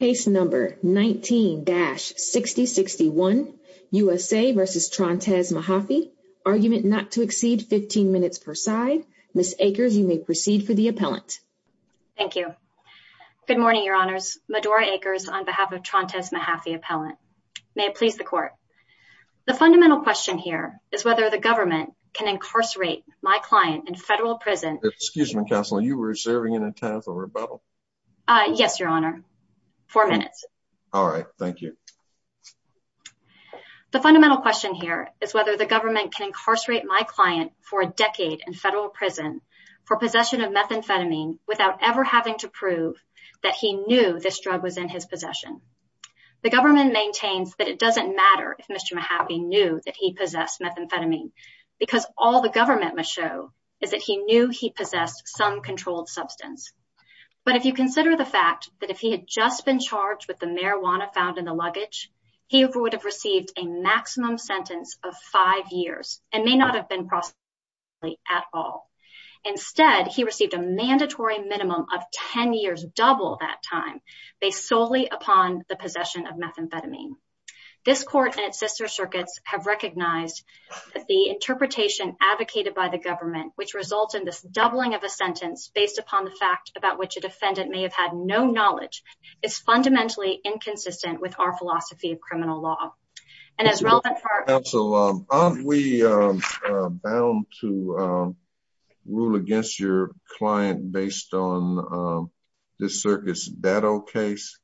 Case No. 19-6061, USA v. Trontez Mahaffey, Argument not to exceed 15 minutes per side, Ms. Akers, you may proceed for the appellant. Thank you. Good morning, Your Honors. Medora Akers on behalf of Trontez Mahaffey Appellant. May it please the Court. The fundamental question here is whether the government can incarcerate my client in federal prison. Excuse me, Counselor, you were reserving an intent of rebuttal. Yes, Your Honor. Four minutes. All right. Thank you. The fundamental question here is whether the government can incarcerate my client for a decade in federal prison for possession of methamphetamine without ever having to prove that he knew this drug was in his possession. The government maintains that it doesn't matter if Mr. Mahaffey knew that he possessed methamphetamine because all the government must show is that he knew he possessed some controlled substance. But if you consider the fact that if he had just been charged with the marijuana found in the luggage, he would have received a maximum sentence of five years and may not have been prosecuted at all. Instead, he received a mandatory minimum of 10 years, double that time, based solely upon the possession of methamphetamine. This court and its sister circuits have recognized that the interpretation advocated by the government, which results in this doubling of a sentence based upon the fact about which a defendant may have had no knowledge, is fundamentally inconsistent with our philosophy of criminal law. Counsel, aren't we bound to rule against your client based on this circuit's Datto case?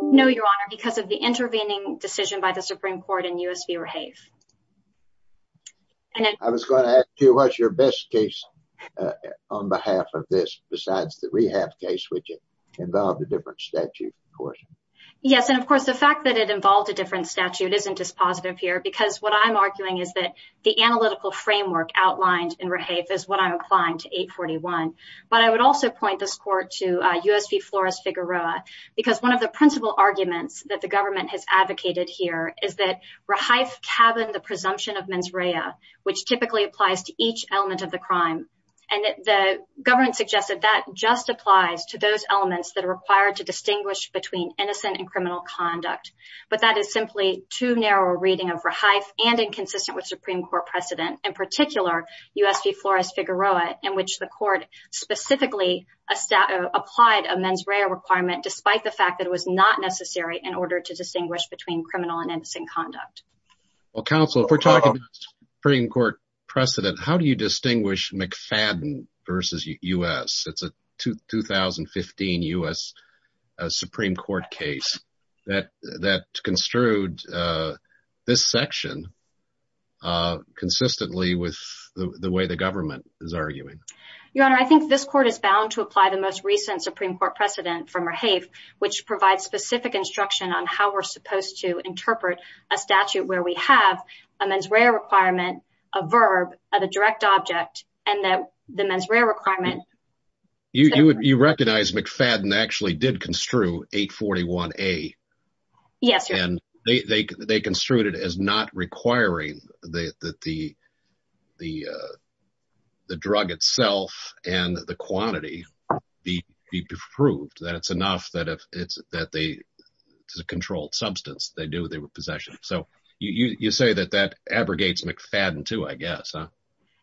No, Your Honor, because of the intervening decision by the Supreme Court in U.S. v. Rehave. And I was going to ask you, what's your best case on behalf of this besides the rehab case, which involved a different statute? Yes, and of course, the fact that it involved a different statute isn't just positive here, because what I'm arguing is that the analytical framework outlined in Rehave is what I'm applying to 841. But I would also point this court to U.S. v. Flores-Figueroa, because one of the principal arguments that the government has advocated here is that Rehave cabined the presumption of mens rea, which typically applies to each element of the crime. And the government suggested that just applies to those elements that are required to distinguish between innocent and criminal conduct. But that is simply too narrow a reading of Rehave and inconsistent with Supreme Court precedent, in particular U.S. v. Flores-Figueroa, in which the court specifically applied a mens rea requirement, despite the fact that it was not necessary in order to distinguish between criminal and innocent conduct. Well, counsel, if we're talking Supreme Court precedent, how do you distinguish McFadden v. U.S.? It's a 2015 U.S. Supreme Court case that construed this section consistently with the way the government is arguing. Your Honor, I think this court is bound to apply the most recent Supreme Court precedent from Rehave, which provides specific instruction on how we're supposed to interpret a statute where we have a mens rea requirement, a verb, a direct object, and the mens rea requirement. You recognize McFadden actually did construe 841A. Yes, Your Honor. And they construed it as not requiring that the drug itself and the quantity be proved, that it's enough that it's a controlled substance. They knew they were possession. So you say that that abrogates McFadden too, I guess, huh?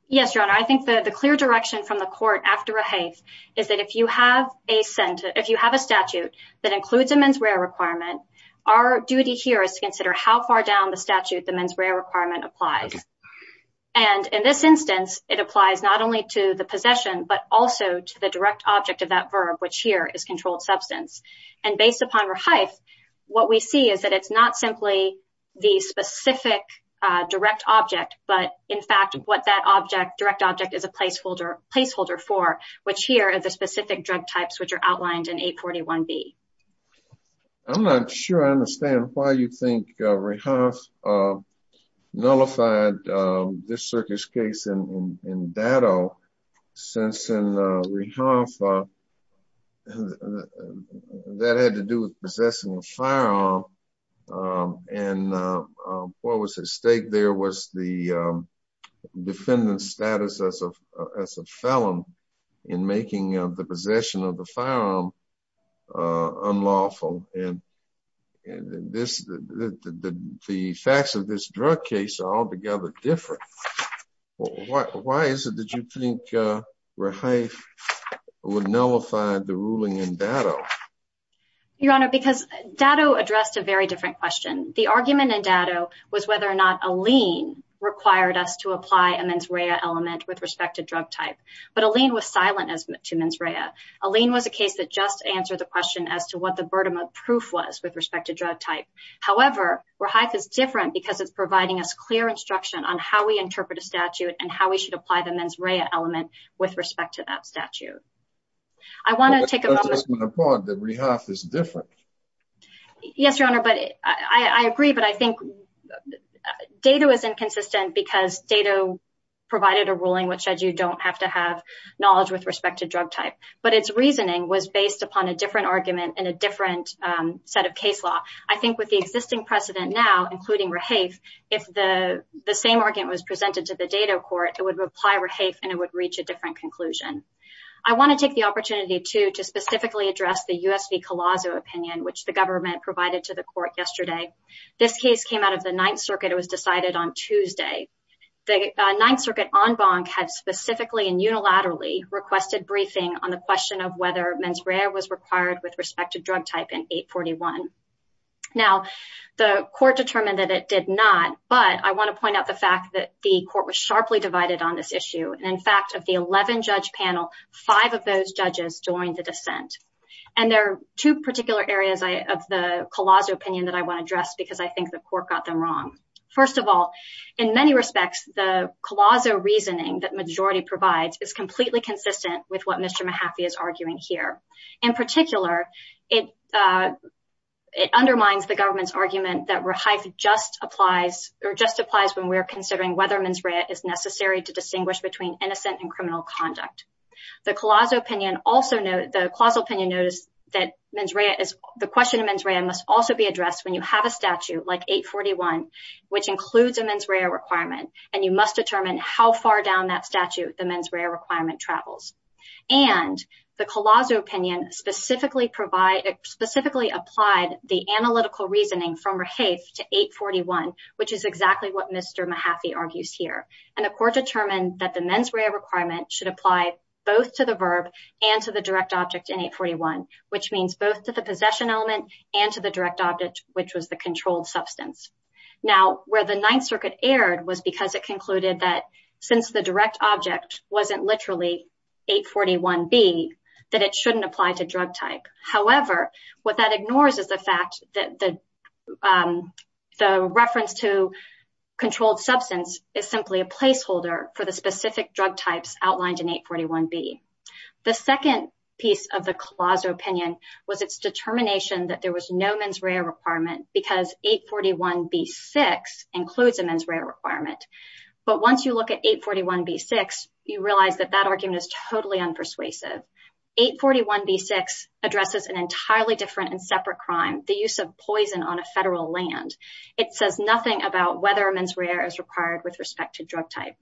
Yes, Your Honor. I think the clear direction from the court after Rehave is that if you have a statute that includes a mens rea requirement, our duty here is to consider how far down the statute the mens rea requirement applies. And in this instance, it applies not only to the possession, but also to the direct object of that verb, which here is controlled substance. And based upon Rehave, what we see is that it's not simply the specific direct object, but in fact, what that object, direct object is a placeholder for, which here are the specific drug types which are outlined in 841B. I'm not sure I understand why you think Rehave nullified this circuit's case in Datto, since in Rehave that had to do with possessing a firearm. And what was at stake there was the defendant's status as a felon in making the possession of the firearm unlawful. And the facts of this drug case are altogether different. Why is it that you think Rehave would nullify the ruling in Datto? Your Honor, because Datto addressed a very different question. The argument in Datto was whether or not a lien required us to apply a mens rea element with respect to drug type. But a lien was silent as to mens rea. A lien was a case that just answered the question as to what the burden of proof was with respect to drug type. However, Rehave is different because it's providing us clear instruction on how we interpret a statute and how we should apply the mens rea element with respect to that statute. I want to take a moment. Rehave is different. Yes, Your Honor, but I agree. But I think Datto is inconsistent because Datto provided a ruling which said you don't have to have knowledge with respect to drug type. But its reasoning was based upon a different argument and a different set of case law. I think with the existing precedent now, including Rehave, if the same argument was presented to the Datto court, it would apply Rehave and it would reach a different conclusion. I want to take the opportunity to specifically address the U.S. v. Collazo opinion, which the government provided to the court yesterday. This case came out of the Ninth Circuit. It was decided on Tuesday. The Ninth Circuit en banc had specifically and unilaterally requested briefing on the question of whether mens rea was required with respect to drug type in 841. Now, the court determined that it did not, but I want to point out the fact that the court was sharply divided on this issue. In fact, of the 11-judge panel, five of those judges joined the dissent. And there are two particular areas of the Collazo opinion that I want to address because I think the court got them wrong. First of all, in many respects, the Collazo reasoning that majority provides is completely consistent with what Mr. Mahaffey is arguing here. In particular, it undermines the government's argument that Rehave just applies when we're considering whether mens rea is necessary to distinguish between innocent and criminal conduct. The Collazo opinion also noted, the Collazo opinion noticed that mens rea is, the question of mens rea must also be addressed when you have a statute like 841, which includes a mens rea requirement, and you must determine how far down that statute the mens rea requirement travels. And the Collazo opinion specifically provide, specifically applied the analytical reasoning from Rehave to 841, which is exactly what Mr. Mahaffey argues here. And the court determined that the mens rea requirement should apply both to the verb and to the direct object in 841, which means both to the possession element and to the direct object, which was the controlled substance. Now, where the Ninth Circuit erred was because it concluded that since the direct object wasn't literally 841B, that it shouldn't apply to drug type. However, what that ignores is the fact that the reference to controlled substance is simply a placeholder for the specific drug types outlined in 841B. The second piece of the Collazo opinion was its determination that there was no mens rea requirement because 841B6 includes a mens rea requirement. But once you look at 841B6, you realize that that argument is totally unpersuasive. 841B6 addresses an entirely different and separate crime, the use of poison on a federal land. It says nothing about whether mens rea is required with respect to drug type.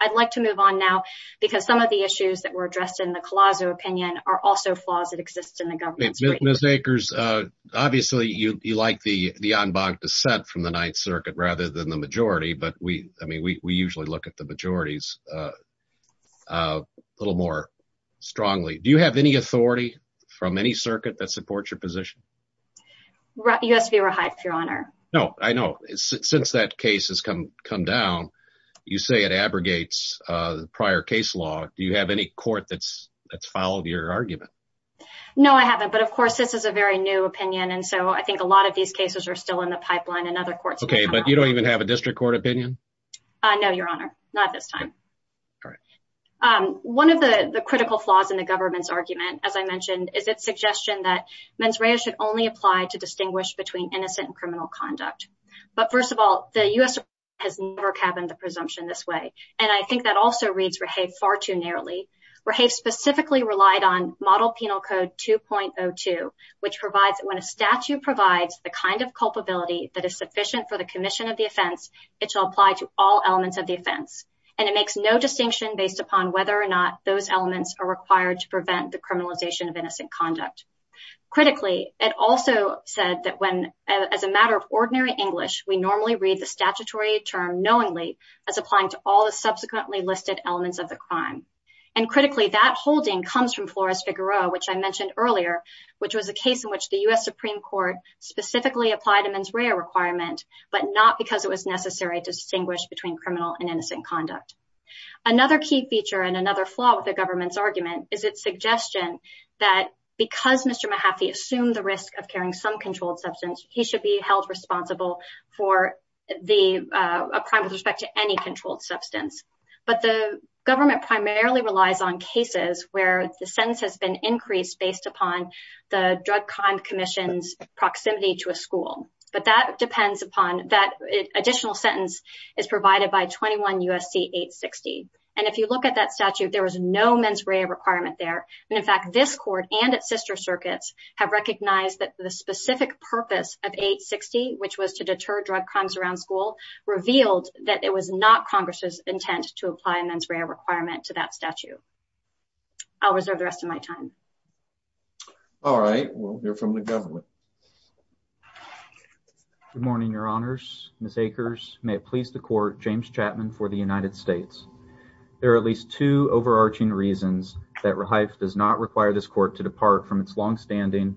I'd like to move on now, because some of the issues that were addressed in the Collazo opinion are also flaws that exist in the government. Ms. Akers, obviously you like the en banc dissent from the Ninth Circuit rather than the majority, but we usually look at the majorities a little more strongly. Do you have any authority from any circuit that supports your position? U.S. Bureau of Hygiene, Your Honor. No, I know. Since that case has come down, you say it abrogates the prior case law. Do you have any court that's followed your argument? No, I haven't. But, of course, this is a very new opinion, and so I think a lot of these cases are still in the pipeline and other courts will come around. Okay, but you don't even have a district court opinion? No, Your Honor. Not at this time. One of the critical flaws in the government's argument, as I mentioned, is its suggestion that mens rea should only apply to distinguish between innocent and criminal conduct. But, first of all, the U.S. has never cabined the presumption this way, and I think that also reads Rahaf far too narrowly. Rahaf specifically relied on Model Penal Code 2.02, which provides that when a statute provides the kind of culpability that is sufficient for the commission of the offense, it shall apply to all elements of the offense. There's no distinction based upon whether or not those elements are required to prevent the criminalization of innocent conduct. Critically, it also said that as a matter of ordinary English, we normally read the statutory term knowingly as applying to all the subsequently listed elements of the crime. And, critically, that holding comes from Flores-Figueroa, which I mentioned earlier, which was a case in which the U.S. Supreme Court specifically applied a mens rea requirement, but not because it was necessary to distinguish between criminal and innocent conduct. Another key feature and another flaw with the government's argument is its suggestion that because Mr. Mahaffey assumed the risk of carrying some controlled substance, he should be held responsible for a crime with respect to any controlled substance. But the government primarily relies on cases where the sentence has been increased based upon the Drug Crime Commission's proximity to a school. But that additional sentence is provided by 21 U.S.C. 860. And if you look at that statute, there was no mens rea requirement there. And, in fact, this court and its sister circuits have recognized that the specific purpose of 860, which was to deter drug crimes around school, revealed that it was not Congress's intent to apply a mens rea requirement to that statute. I'll reserve the rest of my time. All right. We'll hear from the government. Good morning, Your Honors. Ms. Akers, may it please the Court, James Chapman for the United States. There are at least two overarching reasons that REIF does not require this court to depart from its longstanding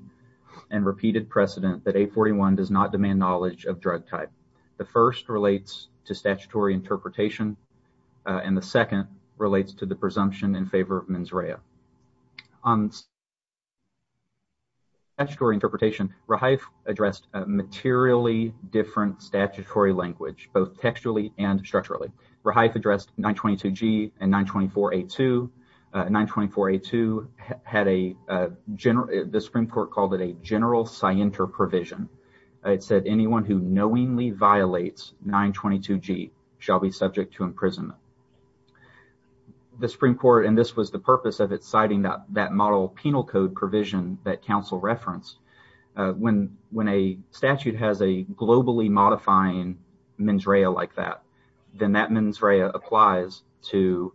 and repeated precedent that 841 does not demand knowledge of drug type. The first relates to statutory interpretation, and the second relates to the presumption in favor of mens rea. On statutory interpretation, REIF addressed a materially different statutory language, both textually and structurally. REIF addressed 922G and 924A2. 924A2 had a – the Supreme Court called it a general scienter provision. It said anyone who knowingly violates 922G shall be subject to imprisonment. The Supreme Court – and this was the purpose of it citing that model penal code provision that counsel referenced – when a statute has a globally modifying mens rea like that, then that mens rea applies to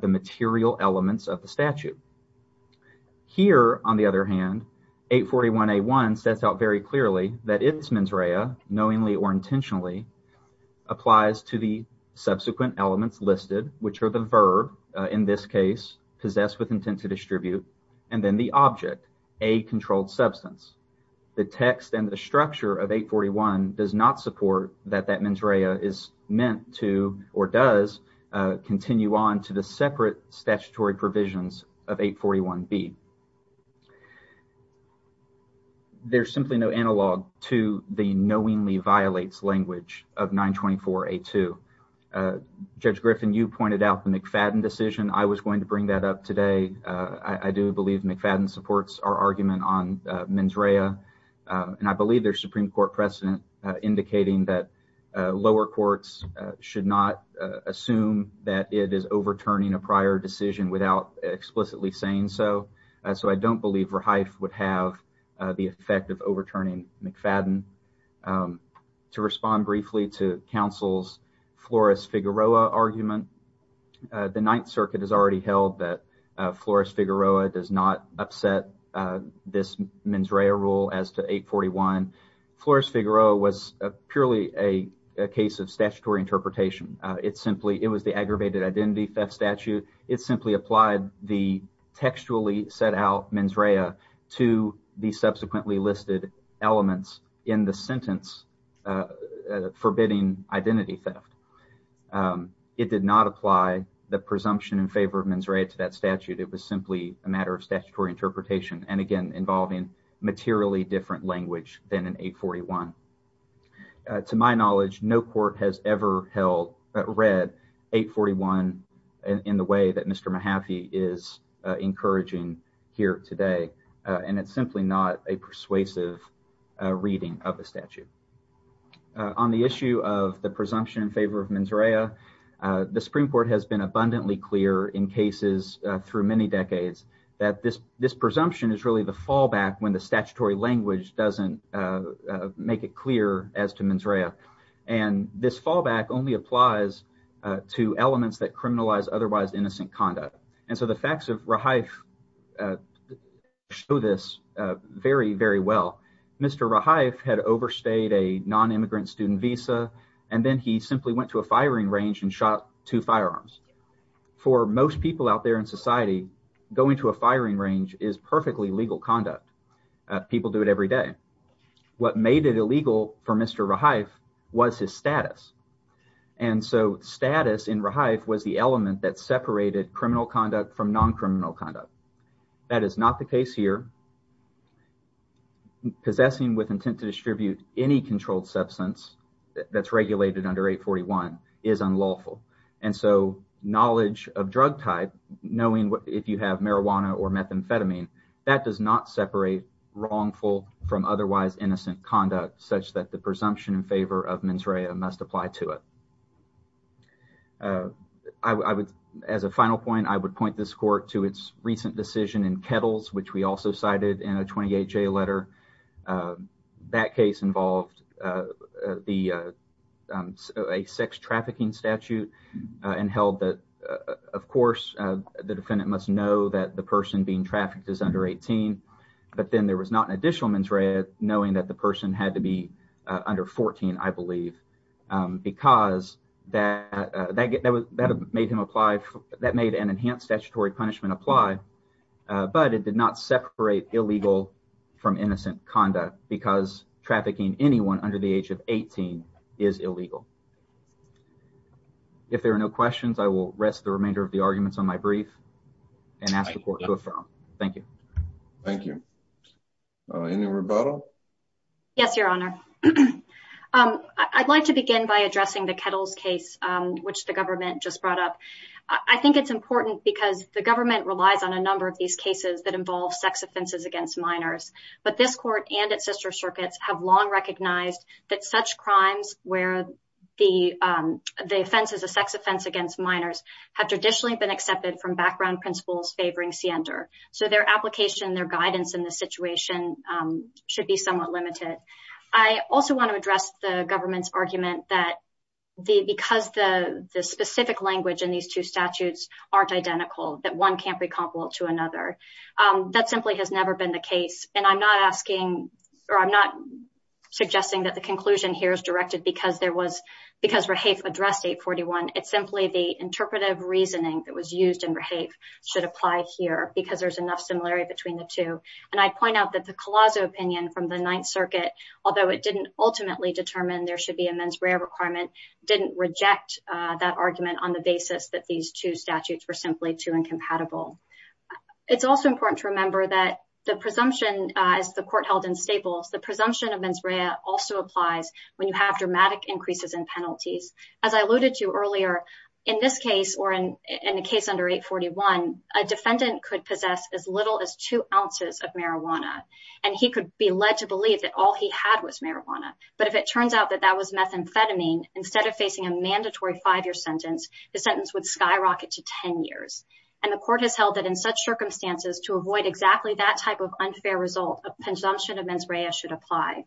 the material elements of the statute. Here, on the other hand, 841A1 sets out very clearly that its mens rea, knowingly or intentionally, applies to the subsequent elements listed, which are the verb, in this case, possessed with intent to distribute, and then the object, a controlled substance. The text and the structure of 841 does not support that that mens rea is meant to or does continue on to the separate statutory provisions of 841B. There's simply no analog to the knowingly violates language of 924A2. Judge Griffin, you pointed out the McFadden decision. I was going to bring that up today. I do believe McFadden supports our argument on mens rea, and I believe there's Supreme Court precedent indicating that lower courts should not assume that it is overturning a prior decision without explicitly saying so. So I don't believe Rehfe would have the effect of overturning McFadden. To respond briefly to counsel's Flores-Figueroa argument, the Ninth Circuit has already held that Flores-Figueroa does not upset this mens rea rule as to 841. Flores-Figueroa was purely a case of statutory interpretation. It simply – it was the aggravated identity theft statute. It simply applied the textually set out mens rea to the subsequently listed elements in the sentence forbidding identity theft. It did not apply the presumption in favor of mens rea to that statute. It was simply a matter of statutory interpretation and, again, involving materially different language than in 841. To my knowledge, no court has ever held – read 841 in the way that Mr. Mahaffey is encouraging here today, and it's simply not a persuasive reading of the statute. On the issue of the presumption in favor of mens rea, the Supreme Court has been abundantly clear in cases through many decades that this presumption is really the fallback when the statutory language doesn't make it clear as to mens rea. And this fallback only applies to elements that criminalize otherwise innocent conduct. And so the facts of Rahife show this very, very well. Mr. Rahife had overstayed a nonimmigrant student visa, and then he simply went to a firing range and shot two firearms. For most people out there in society, going to a firing range is perfectly legal conduct. People do it every day. What made it illegal for Mr. Rahife was his status. And so status in Rahife was the element that separated criminal conduct from noncriminal conduct. That is not the case here. Possessing with intent to distribute any controlled substance that's regulated under 841 is unlawful. And so knowledge of drug type, knowing if you have marijuana or methamphetamine, that does not separate wrongful from otherwise innocent conduct such that the presumption in favor of mens rea must apply to it. As a final point, I would point this court to its recent decision in Kettles, which we also cited in a 28-J letter. That case involved a sex trafficking statute and held that, of course, the defendant must know that the person being trafficked is under 18. But then there was not an additional mens rea knowing that the person had to be under 14, I believe, because that made an enhanced statutory punishment apply. But it did not separate illegal from innocent conduct because trafficking anyone under the age of 18 is illegal. If there are no questions, I will rest the remainder of the arguments on my brief and ask the court to affirm. Thank you. Thank you. Any rebuttal? Yes, Your Honor. I'd like to begin by addressing the Kettles case, which the government just brought up. I think it's important because the government relies on a number of these cases that involve sex offenses against minors. But this court and its sister circuits have long recognized that such crimes where the offense is a sex offense against minors have traditionally been accepted from background principles favoring siender. So their application, their guidance in this situation should be somewhat limited. I also want to address the government's argument that because the specific language in these two statutes aren't identical, that one can't be comparable to another. That simply has never been the case. And I'm not asking or I'm not suggesting that the conclusion here is directed because there was because Rahaf addressed 841. It's simply the interpretive reasoning that was used in Rahaf should apply here because there's enough similarity between the two. And I'd point out that the Collazo opinion from the Ninth Circuit, although it didn't ultimately determine there should be a mens rea requirement, didn't reject that argument on the basis that these two statutes were simply too incompatible. It's also important to remember that the presumption is the court held in staples. The presumption of mens rea also applies when you have dramatic increases in penalties. As I alluded to earlier in this case or in the case under 841, a defendant could possess as little as two ounces of marijuana. And he could be led to believe that all he had was marijuana. But if it turns out that that was methamphetamine, instead of facing a mandatory five year sentence, the sentence would skyrocket to 10 years. And the court has held that in such circumstances to avoid exactly that type of unfair result, a presumption of mens rea should apply.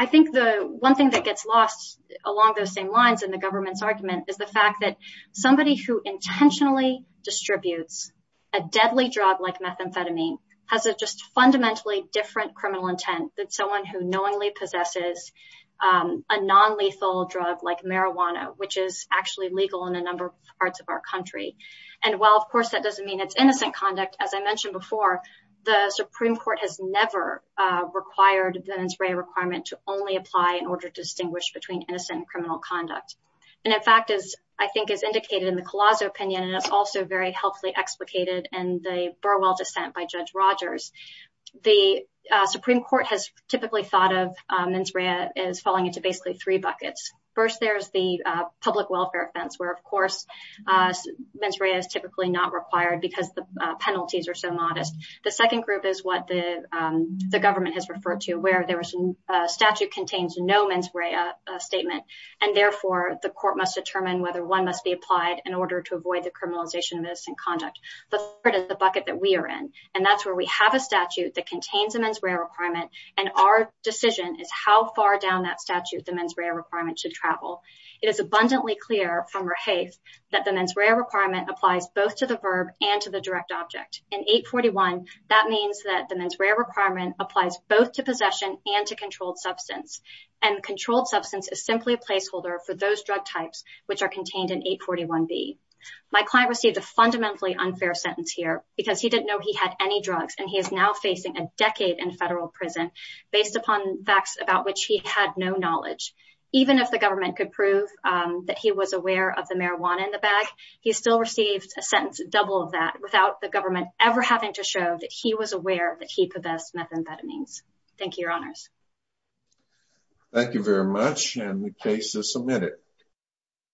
I think the one thing that gets lost along those same lines in the government's argument is the fact that somebody who intentionally distributes a deadly drug like methamphetamine has a just fundamentally different criminal intent than someone who knowingly possesses a non-lethal drug like marijuana, which is actually legal in a number of parts of our country. And while, of course, that doesn't mean it's innocent conduct, as I mentioned before, the Supreme Court has never required the mens rea requirement to only apply in order to distinguish between innocent and criminal conduct. And in fact, as I think is indicated in the Collazo opinion, and it's also very healthily explicated in the Burwell dissent by Judge Rogers, the Supreme Court has typically thought of mens rea as falling into basically three buckets. First, there's the public welfare offense, where, of course, mens rea is typically not required because the penalties are so modest. The second group is what the government has referred to, where there was a statute contains no mens rea statement, and therefore the court must determine whether one must be applied in order to avoid the criminalization of innocent conduct. But it is the bucket that we are in, and that's where we have a statute that contains a mens rea requirement. And our decision is how far down that statute the mens rea requirement should travel. It is abundantly clear from Rehaith that the mens rea requirement applies both to the verb and to the direct object. In 841, that means that the mens rea requirement applies both to possession and to controlled substance, and controlled substance is simply a placeholder for those drug types which are contained in 841B. My client received a fundamentally unfair sentence here because he didn't know he had any drugs, and he is now facing a decade in federal prison based upon facts about which he had no knowledge. Even if the government could prove that he was aware of the marijuana in the bag, he still received a sentence double of that without the government ever having to show that he was aware that he possessed methamphetamines. Thank you, Your Honors. Thank you very much, and the case is submitted.